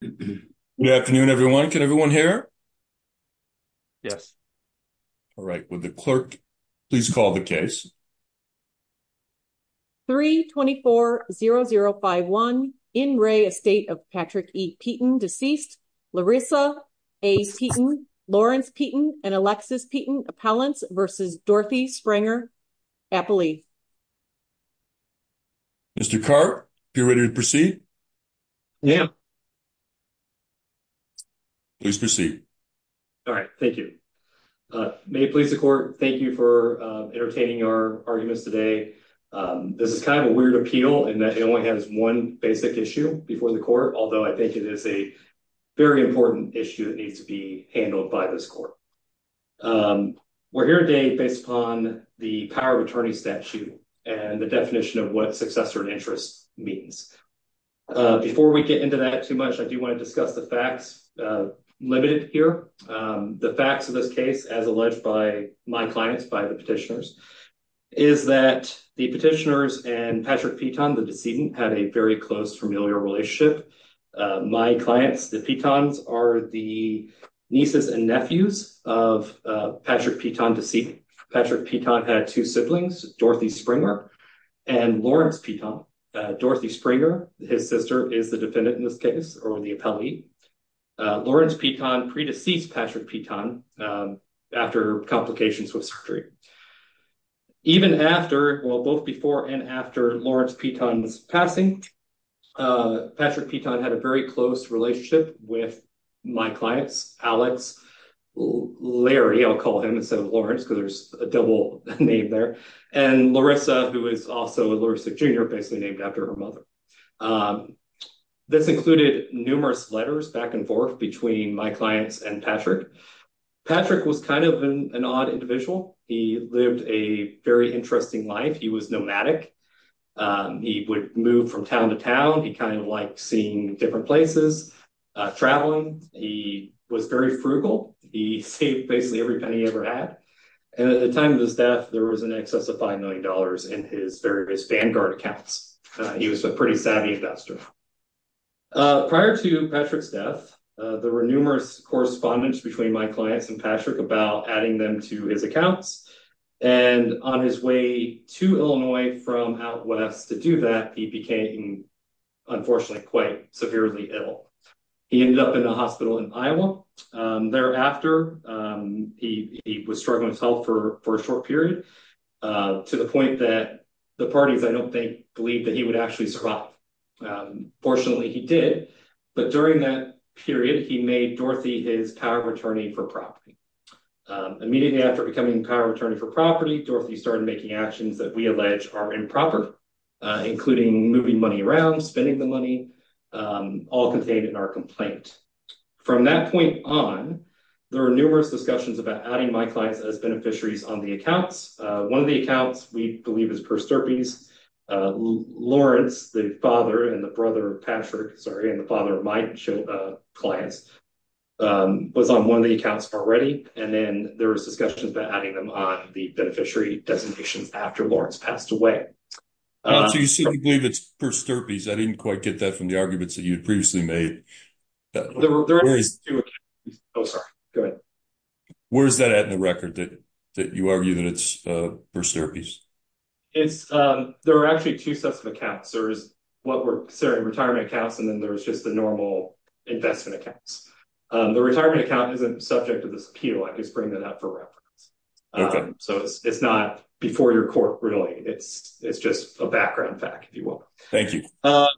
Good afternoon, everyone. Can everyone hear? Yes. All right. With the clerk, please call the case. 3 240051 in Ray Estate of Patrick E. Peyton deceased Larissa A. Peyton, Lawrence Peyton and Alexis Peyton appellants versus Dorothy Springer happily. Mr. Carp, you're ready to proceed. Yeah. Please proceed. All right. Thank you. Uh, may please the court. Thank you for entertaining our arguments today. Um, this is kind of a weird appeal in that it only has one basic issue before the court, although I think it is a very important issue that needs to be handled by this court. Um, we're here day based upon the power of attorney statute and the definition of what successor and interest means. Uh, before we get into that too much, I do want to discuss the facts, uh, limited here. Um, the facts of this case, as alleged by my clients by the petitioners, is that the petitioners and Patrick Peton, the decedent, had a very close, familiar relationship. My Patrick Peton had two siblings, Dorothy Springer and Lawrence Peton. Uh, Dorothy Springer, his sister is the defendant in this case or the appellee. Uh, Lawrence Peton pre-deceased Patrick Peton, um, after complications with surgery, even after, well, both before and after Lawrence Peton's passing. Uh, Patrick Peton had a very close relationship with my clients, Alex, Larry, I'll call him instead of Lawrence, because there's a double name there, and Larissa, who is also Larissa Jr., basically named after her mother. Um, this included numerous letters back and forth between my clients and Patrick. Patrick was kind of an odd individual. He lived a very interesting life. He was nomadic. Um, he would move from town to town. He kind of liked seeing different places, uh, traveling. He was very frugal. He saved basically every penny he ever had. And at the time of his death, there was an excess of $5 million in his various Vanguard accounts. Uh, he was a pretty savvy investor. Uh, prior to Patrick's death, uh, there were numerous correspondence between my clients and Patrick about adding them to his accounts. And on his way to Illinois from out west to do that, he became, unfortunately, quite severely ill. He ended up in a hospital in Iowa. Um, thereafter, um, he, he was struggling with health for a short period, uh, to the point that the parties, I don't think, believed that he would actually survive. Um, fortunately, he did. But during that period, he made Dorothy his power attorney for property. Um, immediately after becoming power attorney for property, Dorothy started making actions that we allege are improper, uh, including moving money around, spending the money, um, all contained in our complaint. From that point on, there were numerous discussions about adding my clients as beneficiaries on the accounts. Uh, one of the accounts we believe is Per Sturpey's, uh, Lawrence, the father and the brother of Patrick, sorry, and the father of my clients, um, was on one of the accounts already. And then there was discussions about adding them on the beneficiary designations after Lawrence passed away. Uh, so you see, we believe it's Per Sturpey's. I didn't quite get that from the arguments that you had previously made. There were, there were two accounts. Oh, sorry. Go ahead. Where's that at in the record that, that you argue that it's, uh, Per Sturpey's? It's, um, there were actually two sets of accounts. There was what were, sorry, retirement accounts, and then there was just the normal investment accounts. Um, the retirement account isn't subject to this appeal. I just bring that up for reference. So it's not before your court, really. It's, it's just a background fact, if you will.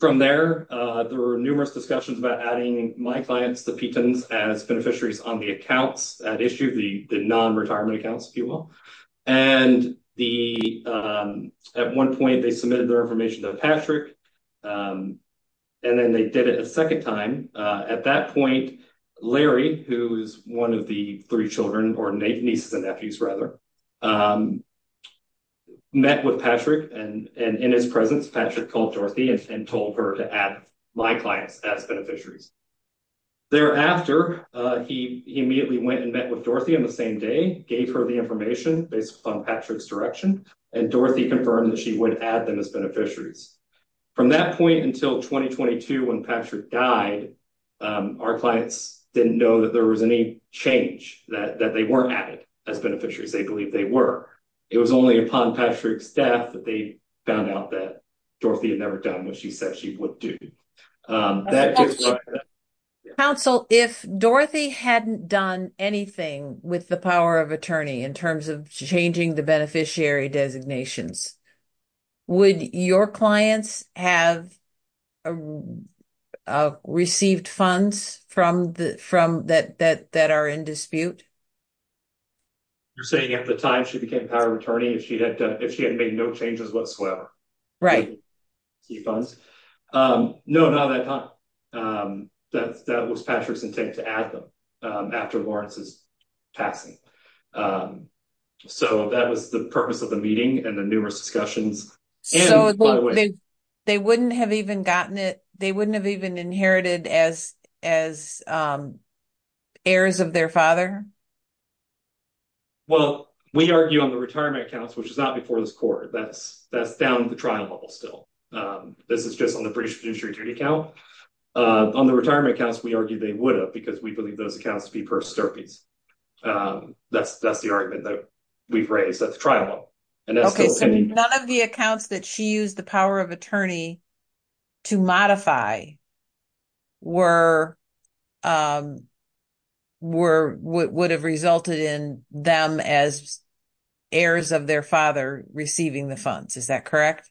From there, uh, there were numerous discussions about adding my clients, the Petens, as beneficiaries on the accounts at issue, the non-retirement accounts, if you will. And the, um, at one point they submitted their information to Patrick, um, and then they did it a second time. Uh, at that point, Larry, who's one of the three children, or nieces and nephews, rather, um, met with Patrick and, and in his presence, Patrick called Dorothy and told her to add my clients as beneficiaries. Thereafter, uh, he, he immediately went and met with Dorothy on the same day, gave her the information based upon Patrick's direction. And Dorothy confirmed that she would add them as beneficiaries. From that point until 2022, when Patrick died, um, our clients didn't know that there was any change, that, that they weren't added as beneficiaries. They believed they were. It was only upon Patrick's death that they found out that Dorothy had never done what she said she would do. Um, that- Counsel, if Dorothy hadn't done anything with the power of attorney, in terms of changing the beneficiary designations, would your clients have, uh, received funds from the, from that, that, that are in dispute? You're saying at the time she became power of attorney, if she had, uh, if she had made no changes whatsoever. Right. Key funds. Um, no, not at that time. Um, that, that was Patrick's intent to add them, after Lawrence's passing. Um, so that was the purpose of the meeting and the numerous discussions. They wouldn't have even gotten it, they wouldn't have even inherited as, as, um, heirs of their father? Well, we argue on the retirement accounts, which is not before this court, that's, that's down to the trial level still. Um, this is just on the British fiduciary duty account. Uh, on the accounts to be persterpes. Um, that's, that's the argument that we've raised at the trial level. Okay, so none of the accounts that she used the power of attorney to modify were, um, were, would have resulted in them as heirs of their father receiving the funds. Is that correct?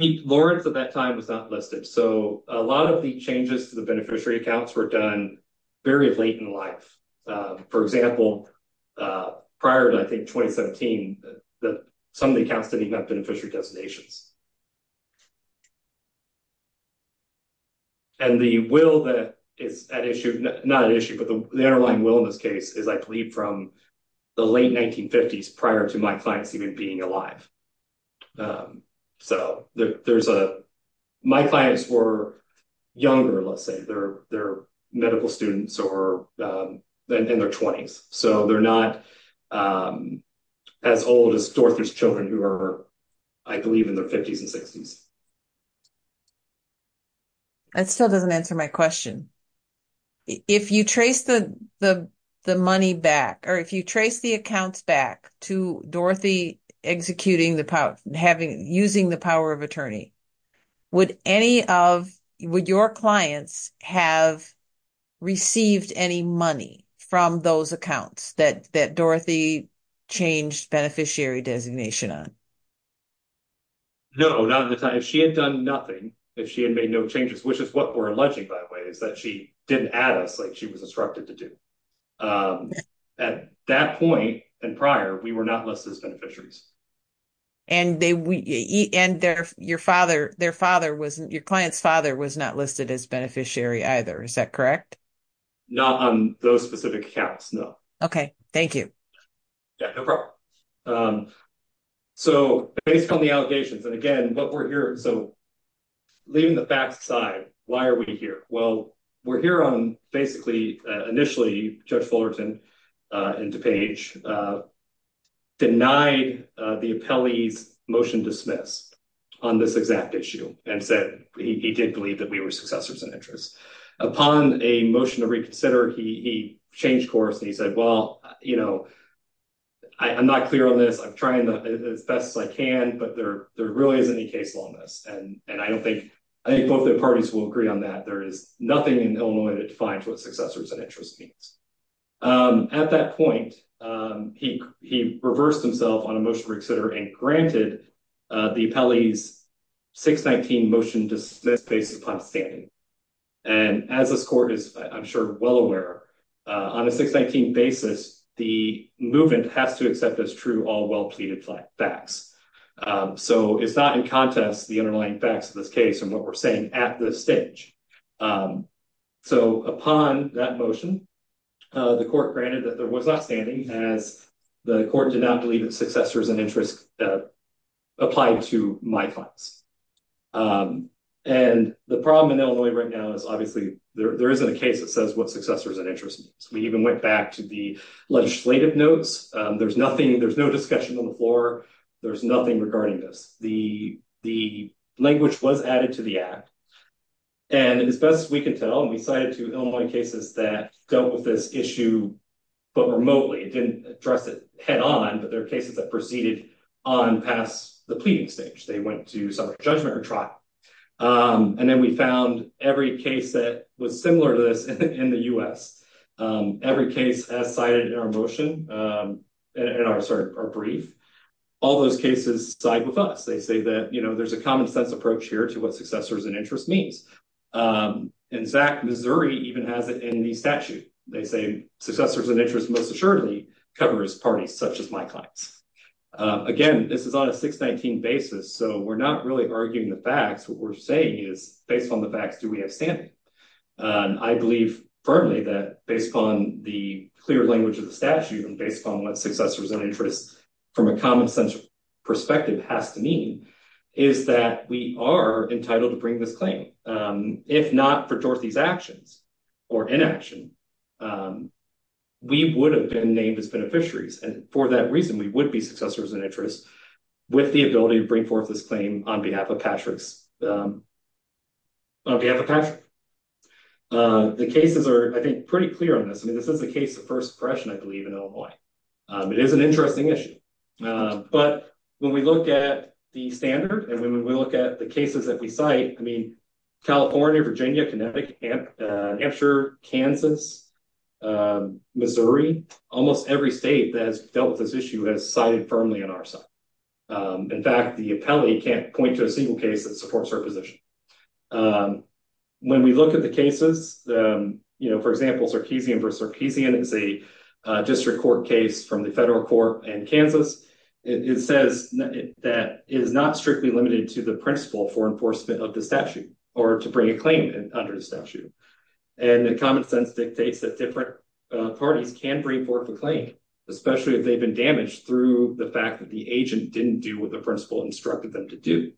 Lawrence at that time was not listed. So a lot of the changes to the beneficiary accounts were done very late in life. Um, for example, uh, prior to, I think, 2017, that some of the accounts didn't even have beneficiary designations. And the will that is at issue, not an issue, but the underlying will in this case is, I believe, from the late 1950s prior to my clients even being alive. Um, so there, there's a, my clients were younger, let's say they're, they're medical students or, um, in their 20s. So they're not, um, as old as Dorothy's children who are, I believe, in their 50s and 60s. That still doesn't answer my question. If you trace the, the, the money back, or if you trace the accounts back to Dorothy executing the power, having, using the power of attorney, would any of, would your clients have received any money from those accounts that, that Dorothy changed beneficiary designation on? No, not at the time. If she had done nothing, if she had made no changes, which is what we're alleging, by the way, is that she didn't add us like she was instructed to do. Um, at that point and prior, we were not listed as their father, their father wasn't, your client's father was not listed as beneficiary either. Is that correct? Not on those specific accounts, no. Okay, thank you. Yeah, no problem. Um, so based on the allegations, and again, what we're here, so leaving the facts aside, why are we here? Well, we're here on basically, uh, initially Judge Fullerton, uh, and DuPage, uh, denied, uh, the appellee's motion dismiss on this exact issue and said he, he did believe that we were successors in interest. Upon a motion to reconsider, he, he changed course and he said, well, you know, I, I'm not clear on this. I'm trying to, as best as I can, but there, there really isn't any case law in this and, and I don't think, I think both the parties will agree on that. There is nothing in Illinois that defines what successors and interest means. Um, at that point, um, he, he reversed himself on a motion to reconsider and granted, uh, the appellee's 619 motion dismissed based upon standing. And as this court is, I'm sure, well aware, on a 619 basis, the movement has to accept as true all well-pleaded facts. Um, so it's not in contest the underlying facts of this case and what we're saying at this stage. Um, so upon that motion, uh, the court granted that there was not standing as the court did not believe that successors and interest, uh, applied to my clients. Um, and the problem in Illinois right now is obviously there, there isn't a case that says what successors and interest means. We even went back to the legislative notes. Um, there's nothing, there's no discussion on the floor. There's nothing regarding this. The, the language was added to the act and as best as we can tell, we cited to Illinois cases that dealt with this issue, but remotely it didn't address it head on, but there are cases that proceeded on past the pleading stage. They went to some judgment or trial. Um, and then we found every case that was similar to this in the U S um, every case as cited in our motion, um, and our, sorry, our brief, all those cases side with us. They say that, there's a common sense approach here to what successors and interest means. Um, in fact, Missouri even has it in the statute. They say successors and interest most assuredly covers parties such as my clients. Uh, again, this is on a 619 basis. So we're not really arguing the facts. What we're saying is based on the facts, do we have standing? Um, I believe firmly that based upon the clear language of the statute and based upon what successors and interest from a common perspective has to mean is that we are entitled to bring this claim. Um, if not for Dorothy's actions or inaction, um, we would have been named as beneficiaries. And for that reason, we would be successors and interest with the ability to bring forth this claim on behalf of Patrick's, um, on behalf of Patrick. Uh, the cases are, I think, pretty clear on this. I mean, this is a case of first impression, I believe in Illinois. Um, it is an interesting issue. Uh, but when we look at the standard and when we look at the cases that we cite, I mean, California, Virginia, Connecticut, uh, Hampshire, Kansas, um, Missouri, almost every state that has dealt with this issue has cited firmly on our side. Um, in fact, the appellate can't point to a single case that supports her position. Um, when we look at the cases, um, you know, for example, Sarkeesian v. Sarkeesian is a, uh, district court case from the federal court in Kansas. It says that it is not strictly limited to the principle for enforcement of the statute or to bring a claim under the statute. And the common sense dictates that different, uh, parties can bring forth a claim, especially if they've been damaged through the fact that the agent didn't do what the principle instructed them to do.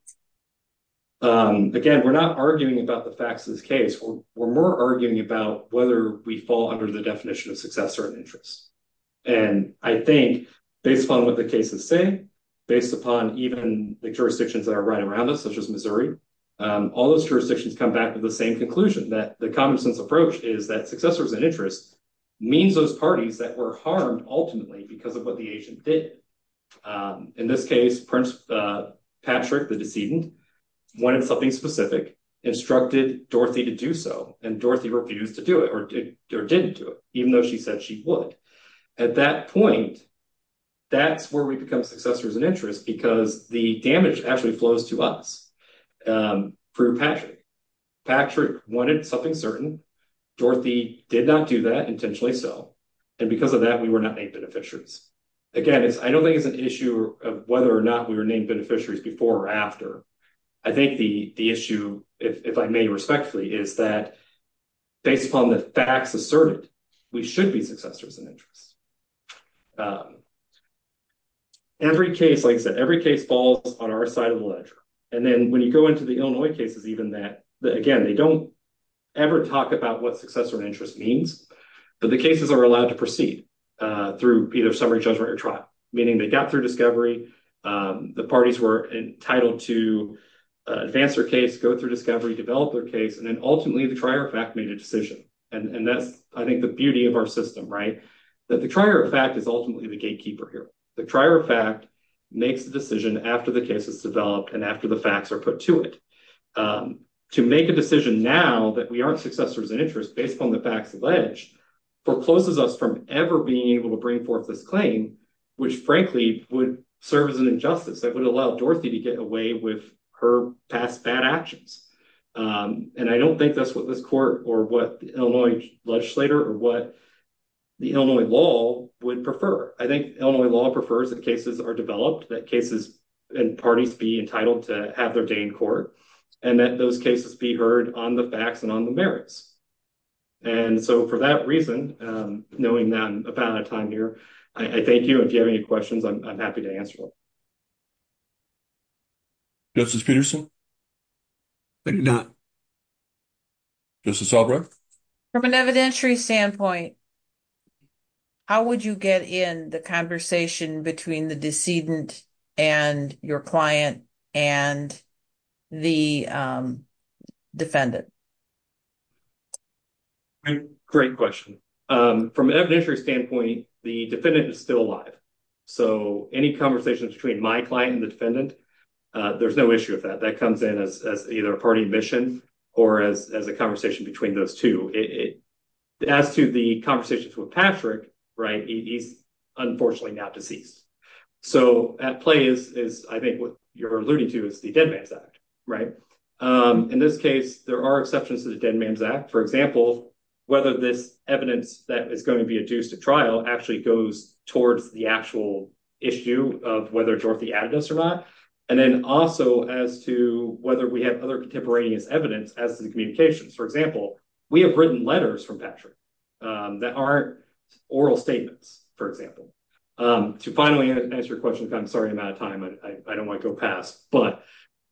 Um, again, we're not arguing about the facts of this case. We're, we're more arguing about whether we fall under the definition of successor and interest. And I think based upon what the cases say, based upon even the jurisdictions that are right around us, such as Missouri, um, all those jurisdictions come back to the same conclusion that the common sense approach is that successors and interest means those parties that were harmed ultimately because of what the agent did. Um, in this case, Prince, uh, Patrick, the decedent wanted something specific, instructed Dorothy to do so, and Dorothy refused to do it or did, or didn't do it, even though she said she would. At that point, that's where we become successors and interest because the damage actually flows to us, um, through Patrick. Patrick wanted something certain. Dorothy did not do that, intentionally so. And because of that, we were not named beneficiaries. Again, it's, I don't think it's an issue of whether or not we were named beneficiaries before or after. I think the, the issue, if I may respectfully, is that based upon the facts asserted, we should be successors and interest. Um, every case, like I said, every case falls on our side of the ledger. And then when you go into the Illinois cases, even that, again, they don't ever talk about what successor and interest means, but the cases are allowed to proceed, uh, either summary judgment or trial, meaning they got through discovery, um, the parties were entitled to, uh, advance their case, go through discovery, develop their case, and then ultimately the trier of fact made a decision. And that's, I think, the beauty of our system, right? That the trier of fact is ultimately the gatekeeper here. The trier of fact makes the decision after the case is developed and after the facts are put to it. Um, to make a decision now that we aren't successors and interest based upon the facts alleged forecloses us from ever being able to bring forth this claim, which frankly would serve as an injustice that would allow Dorothy to get away with her past bad actions. Um, and I don't think that's what this court or what the Illinois legislator or what the Illinois law would prefer. I think Illinois law prefers that cases are developed, that cases and parties be entitled to have their day in court and that those cases be facts and on the merits. And so for that reason, um, knowing that I'm about out of time here, I thank you. If you have any questions, I'm happy to answer them. Justice Peterson. I do not. Justice Albright. From an evidentiary standpoint, how would you get in the conversation between the decedent and your client and the, um, defendant? Great question. Um, from an evidentiary standpoint, the defendant is still alive. So any conversations between my client and the defendant, uh, there's no issue with that. That comes in as, as either a party mission or as, as a conversation between those two. As to the conversations with Patrick, right. He's unfortunately not deceased. So at play is, I think what you're alluding to is the dead man's act, right? Um, in this case, there are exceptions to the dead man's act. For example, whether this evidence that is going to be adduced to trial actually goes towards the actual issue of whether Dorothy Agnes or not. And then also as to whether we have other contemporaneous evidence as the communications, for example, we have written letters from Patrick, um, that aren't oral statements, for example. Um, to finally answer your question, I'm sorry, I'm out of time. I don't want to go past, but,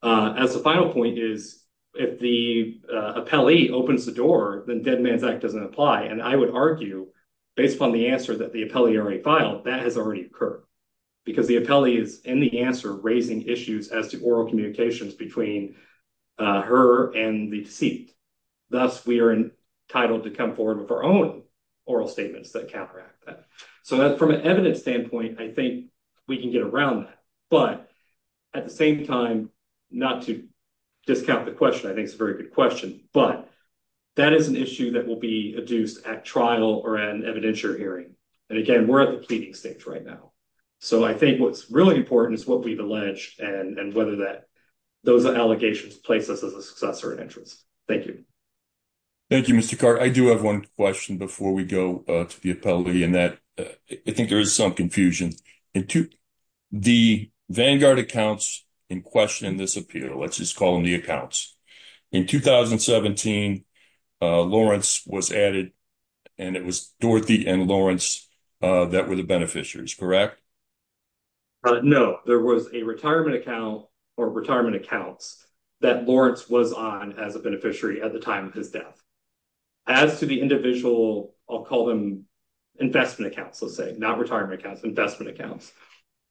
uh, as the final point is, if the, uh, appellee opens the door, then dead man's act doesn't apply. And I would argue based upon the answer that the appellee already filed, that has already occurred because the appellee is in the answer raising issues as to oral communications between, uh, her and the deceit. Thus we are entitled to come forward with our own oral statements that counteract that. So that from an evidence standpoint, I think we can get around that, but at the same time, not to discount the question, I think it's a very good question, but that is an issue that will be adduced at trial or an evidentiary hearing. And again, we're at the pleading stage right now. So I think what's really important is what we've alleged and whether that those allegations place us as a successor in interest. Thank you. Thank you, Mr. Carr. I do have one question before we go to the appellee and that I think there is some confusion into the Vanguard accounts in question in this appeal. Let's just call them the accounts. In 2017, uh, Lawrence was added and it was Dorothy and Lawrence, uh, that were the beneficiaries, correct? No, there was a retirement account or retirement accounts that was on as a beneficiary at the time of his death. As to the individual, I'll call them investment accounts. Let's say not retirement accounts, investment accounts,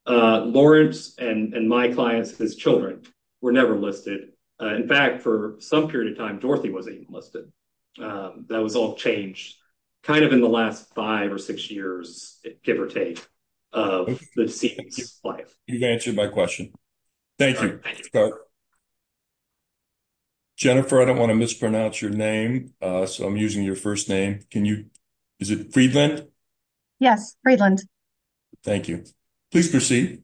uh, Lawrence and my clients, his children were never listed. Uh, in fact, for some period of time, Dorothy wasn't listed. Um, that was all changed kind of in the last five or six years, give or take, uh, life. You answered my question. Thank you. Jennifer, I don't want to mispronounce your name. Uh, so I'm using your first name. Can you, is it Friedland? Yes. Friedland. Thank you. Please proceed.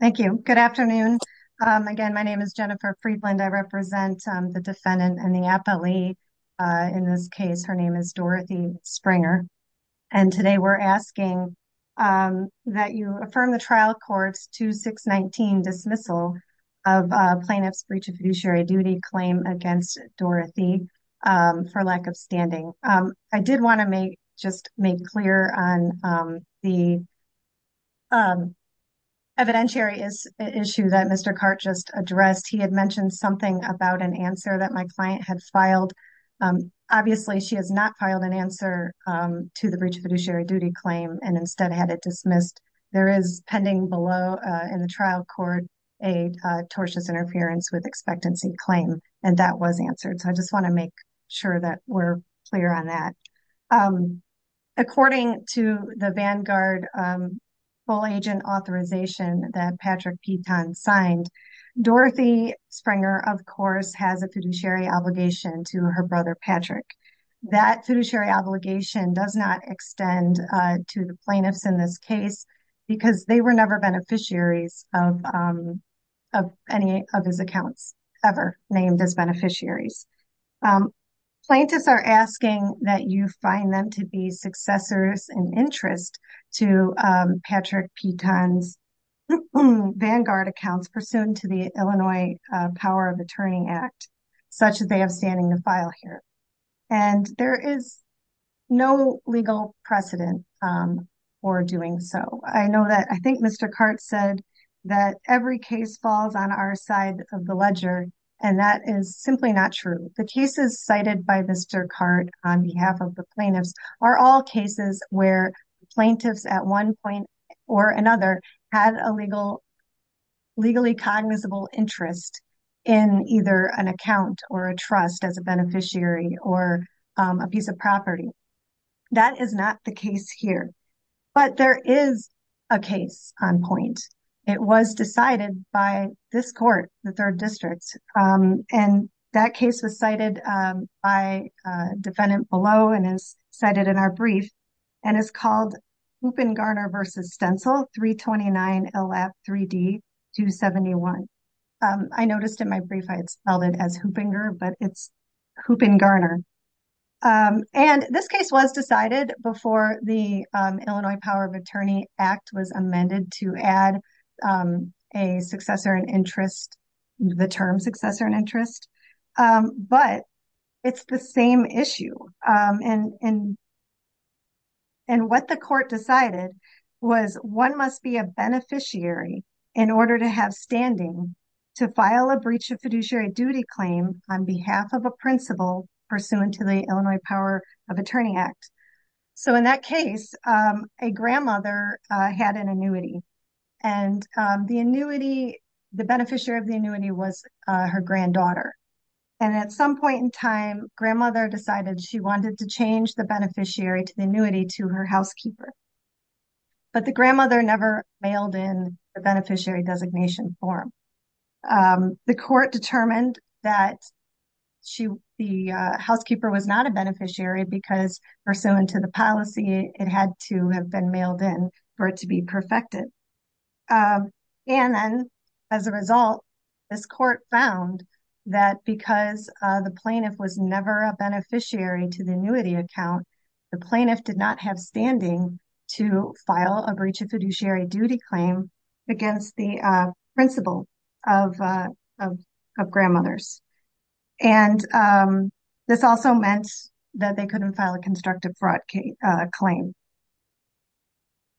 Thank you. Good afternoon. Um, again, my name is Jennifer Friedland. I represent, um, the defendant and the appellee, uh, in this case, her name is Dorothy Springer. And today we're asking, um, that you affirm the trial court's 2619 dismissal of, uh, plaintiff's breach of fiduciary duty claim against Dorothy, um, for lack of standing. Um, I did want to make, just make clear on, um, the, um, evidentiary issue that Mr. Cart just addressed. He had mentioned something about an answer that my client had filed. Um, obviously she has not filed an answer, um, to the breach of fiduciary duty claim and instead had it dismissed. There is pending below, uh, in the trial court, a, uh, tortious interference with expectancy claim, and that was answered. So I just want to make sure that we're clear on that. Um, according to the Vanguard, um, full agent authorization that Patrick Piton signed, Dorothy Springer, of course, has a fiduciary obligation to her brother, Patrick. That fiduciary obligation does not extend, uh, to the plaintiffs in this case because they were never beneficiaries of, um, of any of his accounts ever named as beneficiaries. Um, plaintiffs are asking that you find them to be successors in interest to, um, Patrick Piton's Vanguard accounts pursuant to the Illinois, uh, Power of Attorney Act, such as they have standing the file here. And there is no legal precedent, um, for doing so. I know that, I think Mr. Cart said that every case falls on our side of the ledger, and that is simply not true. The cases cited by Mr. Cart on behalf of the plaintiffs are all cases where plaintiffs at one point or another had a legal, legally cognizable interest in either an account or a trust as a beneficiary or, um, a piece of property. That is not the case here, but there is a case on point. It was decided by this court, the third district, um, and that case was cited, um, by a defendant below and is cited in our brief and is called Hoopingarner v. Stencil 329 LF 3D 271. Um, I noticed in my brief I had spelled it as Hoopinger, but it's Hoopingarner. Um, and this case was decided before the, um, Illinois Power of Attorney Act was amended to add, um, a successor in interest, the term successor in interest, um, but it's the same issue, um, and, and, and what the court decided was one must be a beneficiary in order to have standing to file a breach of fiduciary duty claim on behalf of a principal pursuant to the Illinois Power of Attorney Act. So, in that case, um, a grandmother, uh, had an annuity, and, um, the annuity, the beneficiary of the annuity was, uh, her granddaughter, and at some point in time, grandmother decided she wanted to change the beneficiary to the annuity to her housekeeper, but the grandmother never mailed in the beneficiary designation form. Um, the court determined that she, the, uh, housekeeper was not a beneficiary because pursuant to the policy, it had to have been mailed in for it to be perfected. Um, and then as a result, this court found that because, uh, the plaintiff was never a beneficiary to the annuity account, the plaintiff did not have standing to file a breach of fiduciary duty claim against the, uh, principal of, uh, of, of grandmothers, and, um, this also meant that they couldn't file a constructive fraud, uh, claim.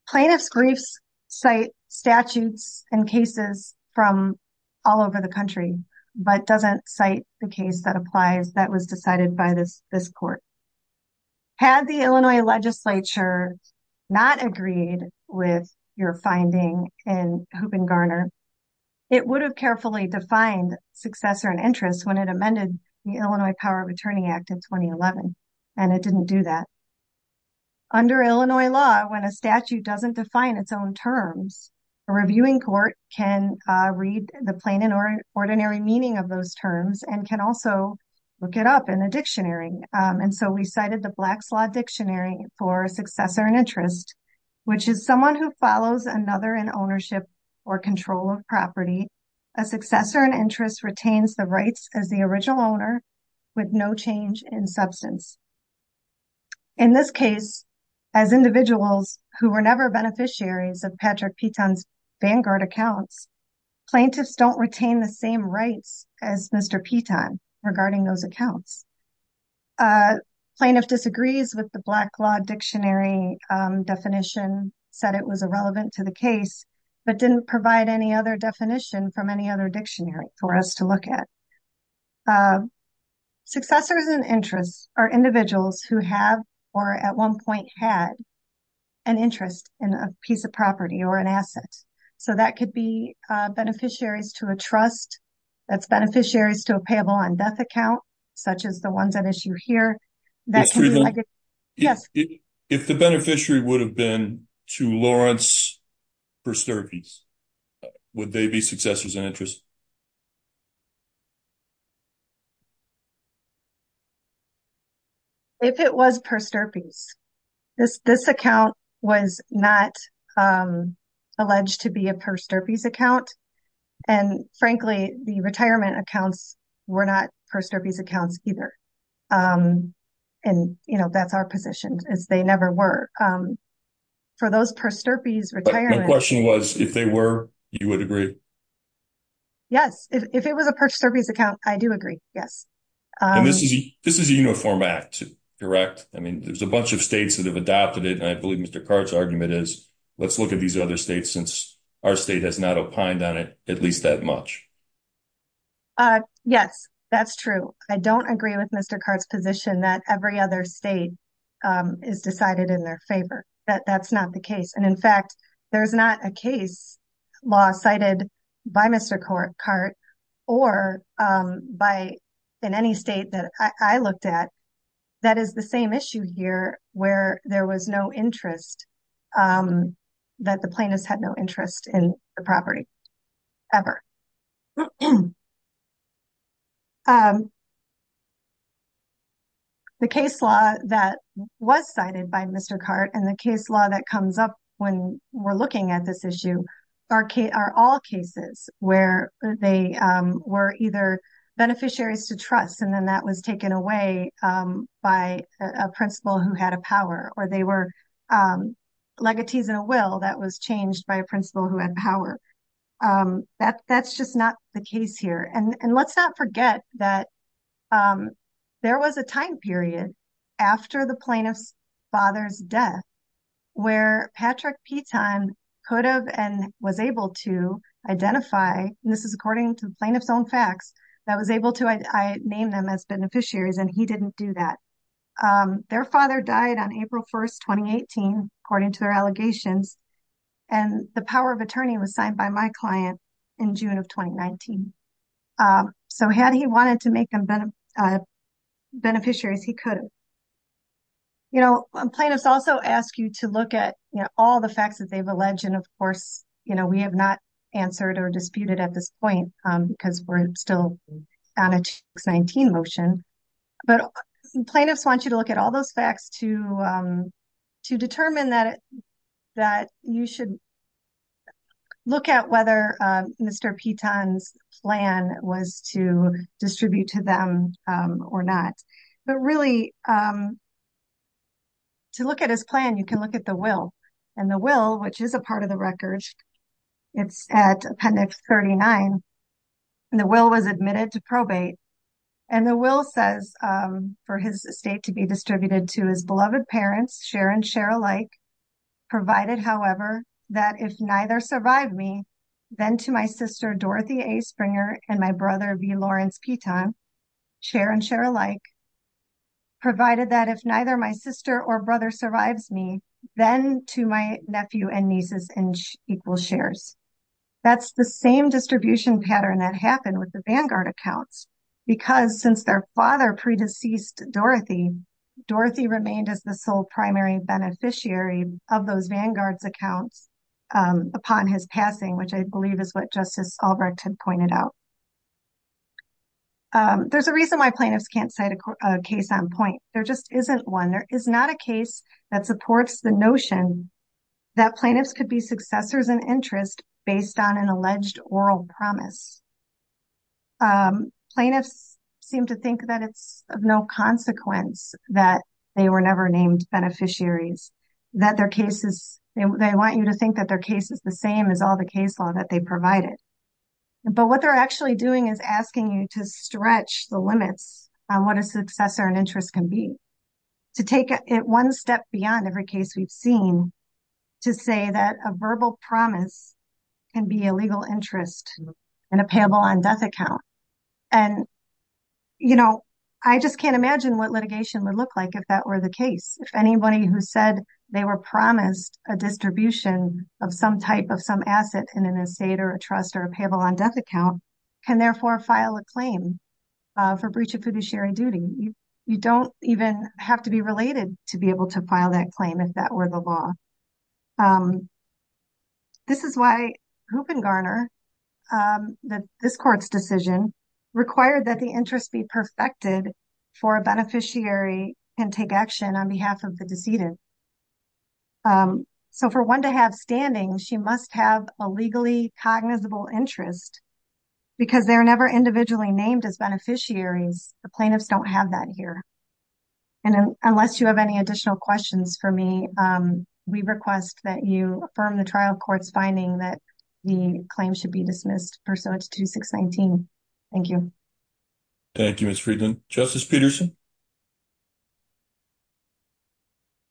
Plaintiff's briefs cite statutes and cases from all over the country, but doesn't cite the case that applies that was decided by this, this court. Had the Illinois legislature not agreed with your finding in Hoop and Garner, it would have carefully defined successor and interest when it amended the Illinois Power of Attorney Act in 2011, and it didn't do that. Under Illinois law, when a statute doesn't define its own terms, a reviewing court can, uh, read the plain and ordinary meaning of those terms and can also look it up in a dictionary. Um, and so we cited the Black's Law Dictionary for successor and interest, which is someone who follows another in ownership or control of property. A successor and interest retains the rights as the original owner with no change in substance. In this case, as individuals who were never beneficiaries of Patrick Peton's Vanguard accounts, plaintiffs don't retain the same rights as Mr. Peton regarding those accounts. Uh, plaintiff disagrees with the Black Law Dictionary, um, definition, said it was irrelevant to the case, but didn't provide any other definition from any other dictionary for us to look at. Uh, successors and interests are individuals who have, or at one point had, an interest in a piece of property or an asset. So that could be, uh, beneficiaries to a trust, that's beneficiaries to a payable on death account, such as the ones at issue here, that can be, yes. If the beneficiary would have to Lawrence Persterpe's, would they be successors and interest? If it was Persterpe's, this, this account was not, um, alleged to be a Persterpe's account. And frankly, the retirement accounts were not Persterpe's accounts either. Um, and you know, that's our position is they never were, um, for those Persterpe's retirement. My question was, if they were, you would agree? Yes. If it was a Persterpe's account, I do agree. Yes. And this is, this is a uniform act, correct? I mean, there's a bunch of states that have adopted it. And I believe Mr. Cart's argument is, let's look at these other states since our state has not opined on it, at least that much. Uh, yes, that's true. I don't agree with Mr. Cart's position that every other state, um, is decided in their favor, that that's not the case. And in fact, there's not a case law cited by Mr. Cart or, um, by in any state that I looked at that is the same issue here where there was no interest, um, that the plaintiffs had no interest in the property ever. Um, the case law that was cited by Mr. Cart and the case law that comes up when we're looking at this issue are all cases where they, um, were either beneficiaries to trust, and then that was taken away, um, by a principal who had a power or they were, um, legatees in a will that was changed by a principal who had power. Um, that, that's just not the case here. And let's not forget that, um, there was a time period after the plaintiff's father's death where Patrick Peton could have and was able to identify, and this is according to the plaintiff's own facts, that was able to, I named them as beneficiaries and he didn't do that. Um, their father died on April 1st, 2018, according to their allegations. And the power of attorney was signed by my client in June of 2019. Um, so had he wanted to make them beneficiaries, he couldn't. You know, plaintiffs also ask you to look at all the facts that they've alleged. And of course, you know, we have not answered or disputed at this point, um, because we're still on a 2019 motion, but plaintiffs want you to look at all those facts to, um, to determine that, that you should look at whether, um, Mr. Peton's plan was to distribute to them, um, or not. But really, um, to look at his plan, you can look at the will and the will, which is a part of the it's at appendix 39. And the will was admitted to probate. And the will says, um, for his estate to be distributed to his beloved parents, share and share alike, provided however, that if neither survived me, then to my sister, Dorothy A. Springer and my brother, V. Lawrence Peton, share and share alike, provided that if neither my sister or brother survives me, then to my nephew and nieces and equal shares. That's the same distribution pattern that happened with the Vanguard accounts because since their father pre-deceased Dorothy, Dorothy remained as the sole primary beneficiary of those Vanguard's accounts, um, upon his passing, which I believe is what Justice Albrecht had pointed out. Um, there's a reason why plaintiffs can't cite a case on point. There just isn't one. There is not a case that supports the notion that plaintiffs could be successors and interest based on an alleged oral promise. Um, plaintiffs seem to think that it's of no consequence that they were never named beneficiaries, that their cases, they want you to think that their case is the same as all the case law that they provided. But what they're actually doing is asking you to stretch the limits on what a successor and interest can be, to take it one step beyond every case we've seen, to say that a verbal promise can be a legal interest in a payable on death account. And, you know, I just can't imagine what litigation would look like if that were the case. If anybody who said they were promised a distribution of some type of some in an estate or a trust or a payable on death account can therefore file a claim for breach of fiduciary duty. You don't even have to be related to be able to file that claim if that were the law. Um, this is why Hoop and Garner, um, this court's decision required that the interest be perfected for a beneficiary and take action on behalf of the decedent. Um, so for one to have standing, she must have a legally cognizable interest because they're never individually named as beneficiaries. The plaintiffs don't have that here. And unless you have any additional questions for me, um, we request that you affirm the trial court's finding that the claim should be dismissed pursuant to 619. Thank you. Thank you, Ms. Friedland. Justice Peterson?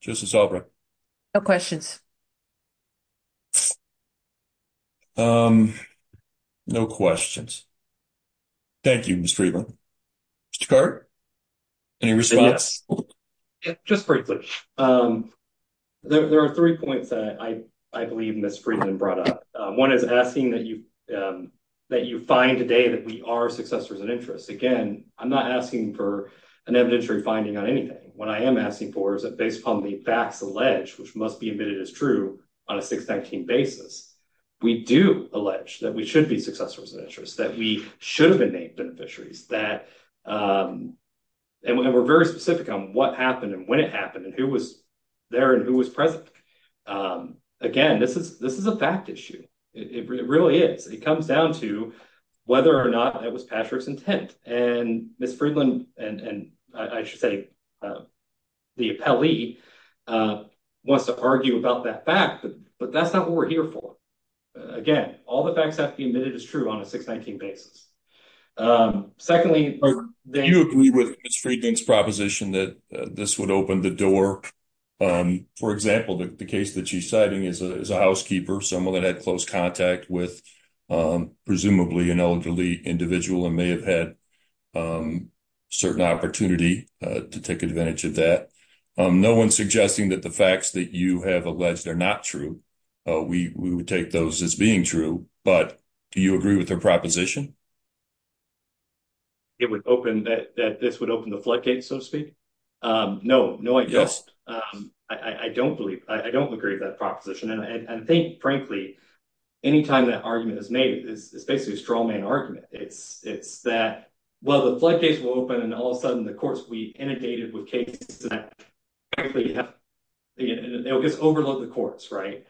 Justice Albright? No questions. Um, no questions. Thank you, Ms. Friedland. Mr. Cart? Any response? Just briefly, um, there are three points that I believe Ms. Friedland brought up. One is asking that you, um, that you find today that we are successors of interest. Again, I'm not asking for an evidentiary finding on anything. What I am asking for is that based upon the facts alleged, which must be admitted as true on a 619 basis, we do allege that we should be successors of interest, that we should have been named beneficiaries, that, um, and we're very specific on what happened and when it happened and who was there and who was present. Um, again, this is a fact issue. It really is. It comes down to whether or not it was Patrick's intent. And Ms. Friedland, and I should say the appellee, uh, wants to argue about that fact, but that's not what we're here for. Again, all the facts have to be admitted as true on a 619 basis. Um, secondly, Do you agree with Ms. Friedland's proposition that this would open the door, um, for example, the case that she's citing is a housekeeper, someone that had close contact with, um, presumably an elderly individual and may have had, um, certain opportunity, uh, to take advantage of that. Um, no one's suggesting that the facts that you have alleged are not true. Uh, we would take those as being true, but do you agree with her proposition? It would open that, that this would so to speak? Um, no, no, I don't. Um, I don't believe I don't agree with that proposition. And I think frankly, anytime that argument is made, it's basically a straw man argument. It's, it's that, well, the floodgates will open and all of a sudden the courts will be inundated with cases that frankly have, it'll just overload the courts, right?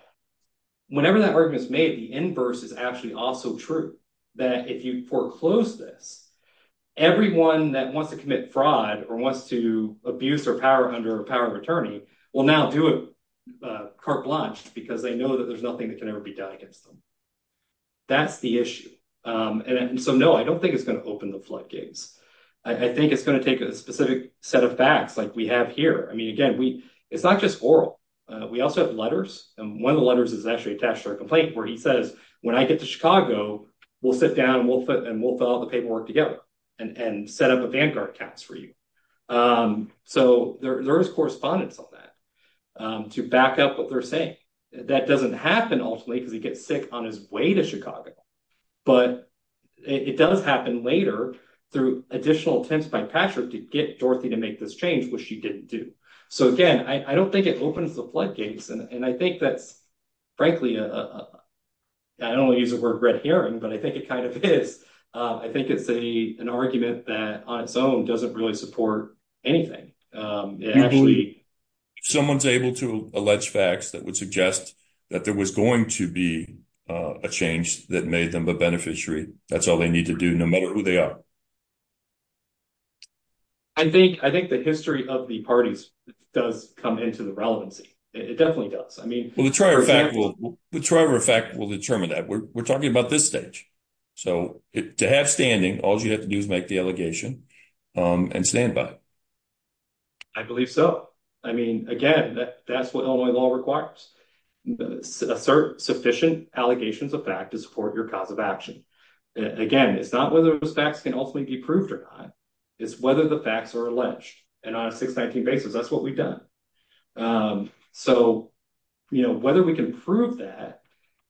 Whenever that argument is made, the inverse is actually also true. That if you foreclose this, everyone that wants to commit fraud or wants to abuse or power under power of attorney will now do a carte blanche because they know that there's nothing that can ever be done against them. That's the issue. Um, and so no, I don't think it's going to open the floodgates. I think it's going to take a specific set of facts like we have here. I mean, again, we, it's not just oral. Uh, we also have letters and one of the letters is actually attached to our complaint where he says, when I get to Chicago, we'll sit for you. Um, so there, there is correspondence on that, um, to back up what they're saying that doesn't happen ultimately, because he gets sick on his way to Chicago, but it does happen later through additional attempts by Patrick to get Dorothy to make this change, which she didn't do. So again, I don't think it opens the floodgates. And I think that's frankly, uh, I don't want to use the word red herring, but I think it kind of is. Uh, I think it's a, an argument that on its own doesn't really support anything. Um, someone's able to allege facts that would suggest that there was going to be a change that made them a beneficiary. That's all they need to do no matter who they are. I think, I think the history of the parties does come into the relevancy. It definitely does. I mean, well, the trier effect will determine that we're talking about this stage. So to have standing, all you have to do is make the allegation, um, and stand by it. I believe so. I mean, again, that's what Illinois law requires. Assert sufficient allegations of fact to support your cause of action. Again, it's not whether those facts can ultimately be proved or not. It's whether the facts are alleged. And on a 619 basis, that's what we've done. Um, so, you know, whether we can prove that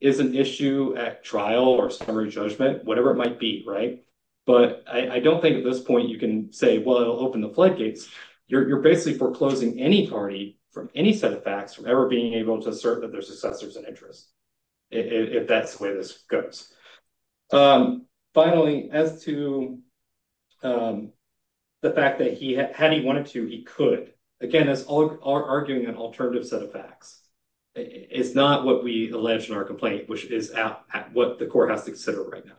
is an issue at trial or summary judgment, whatever it might be, right? But I don't think at this point you can say, well, it'll open the floodgates. You're basically foreclosing any party from any set of facts from ever being able to assert that their successor's an interest, if that's the way this goes. Um, finally, as to, um, the fact that he had, had he wanted to, he could. Again, it's all arguing an alternative set of facts. It's not what we alleged in our complaint, which is what the court has to consider right now.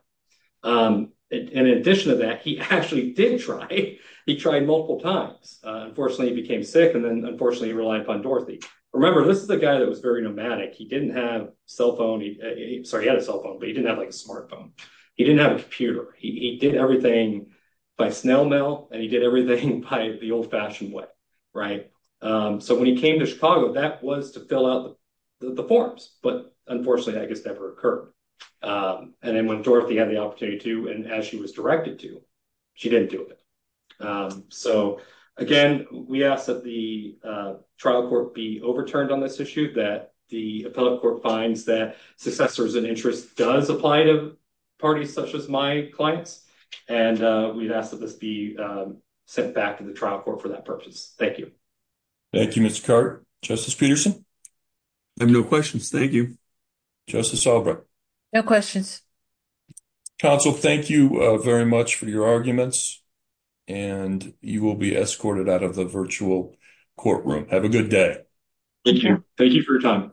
Um, and in addition to that, he actually did try, he tried multiple times. Uh, unfortunately he became sick and then unfortunately he relied upon Dorothy. Remember, this is the guy that was very nomadic. He didn't have cell phone. He, sorry, he had a cell phone, but he didn't have like a smartphone. He didn't have a computer. He did everything by snail mail and he did everything by the old fashioned way, right? Um, so when he occurred, um, and then when Dorothy had the opportunity to, and as she was directed to, she didn't do it. Um, so again, we ask that the, uh, trial court be overturned on this issue, that the appellate court finds that successors and interest does apply to parties such as my clients. And, uh, we've asked that this be, um, sent back to the trial court for that purpose. Thank you. Thank you, Mr. Carter. Justice Peterson. I have no questions. Thank you. Justice Albrecht. No questions. Counsel, thank you very much for your arguments and you will be escorted out of the virtual courtroom. Have a good day. Thank you for your time.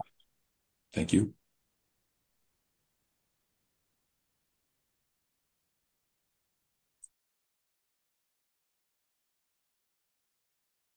Thank you.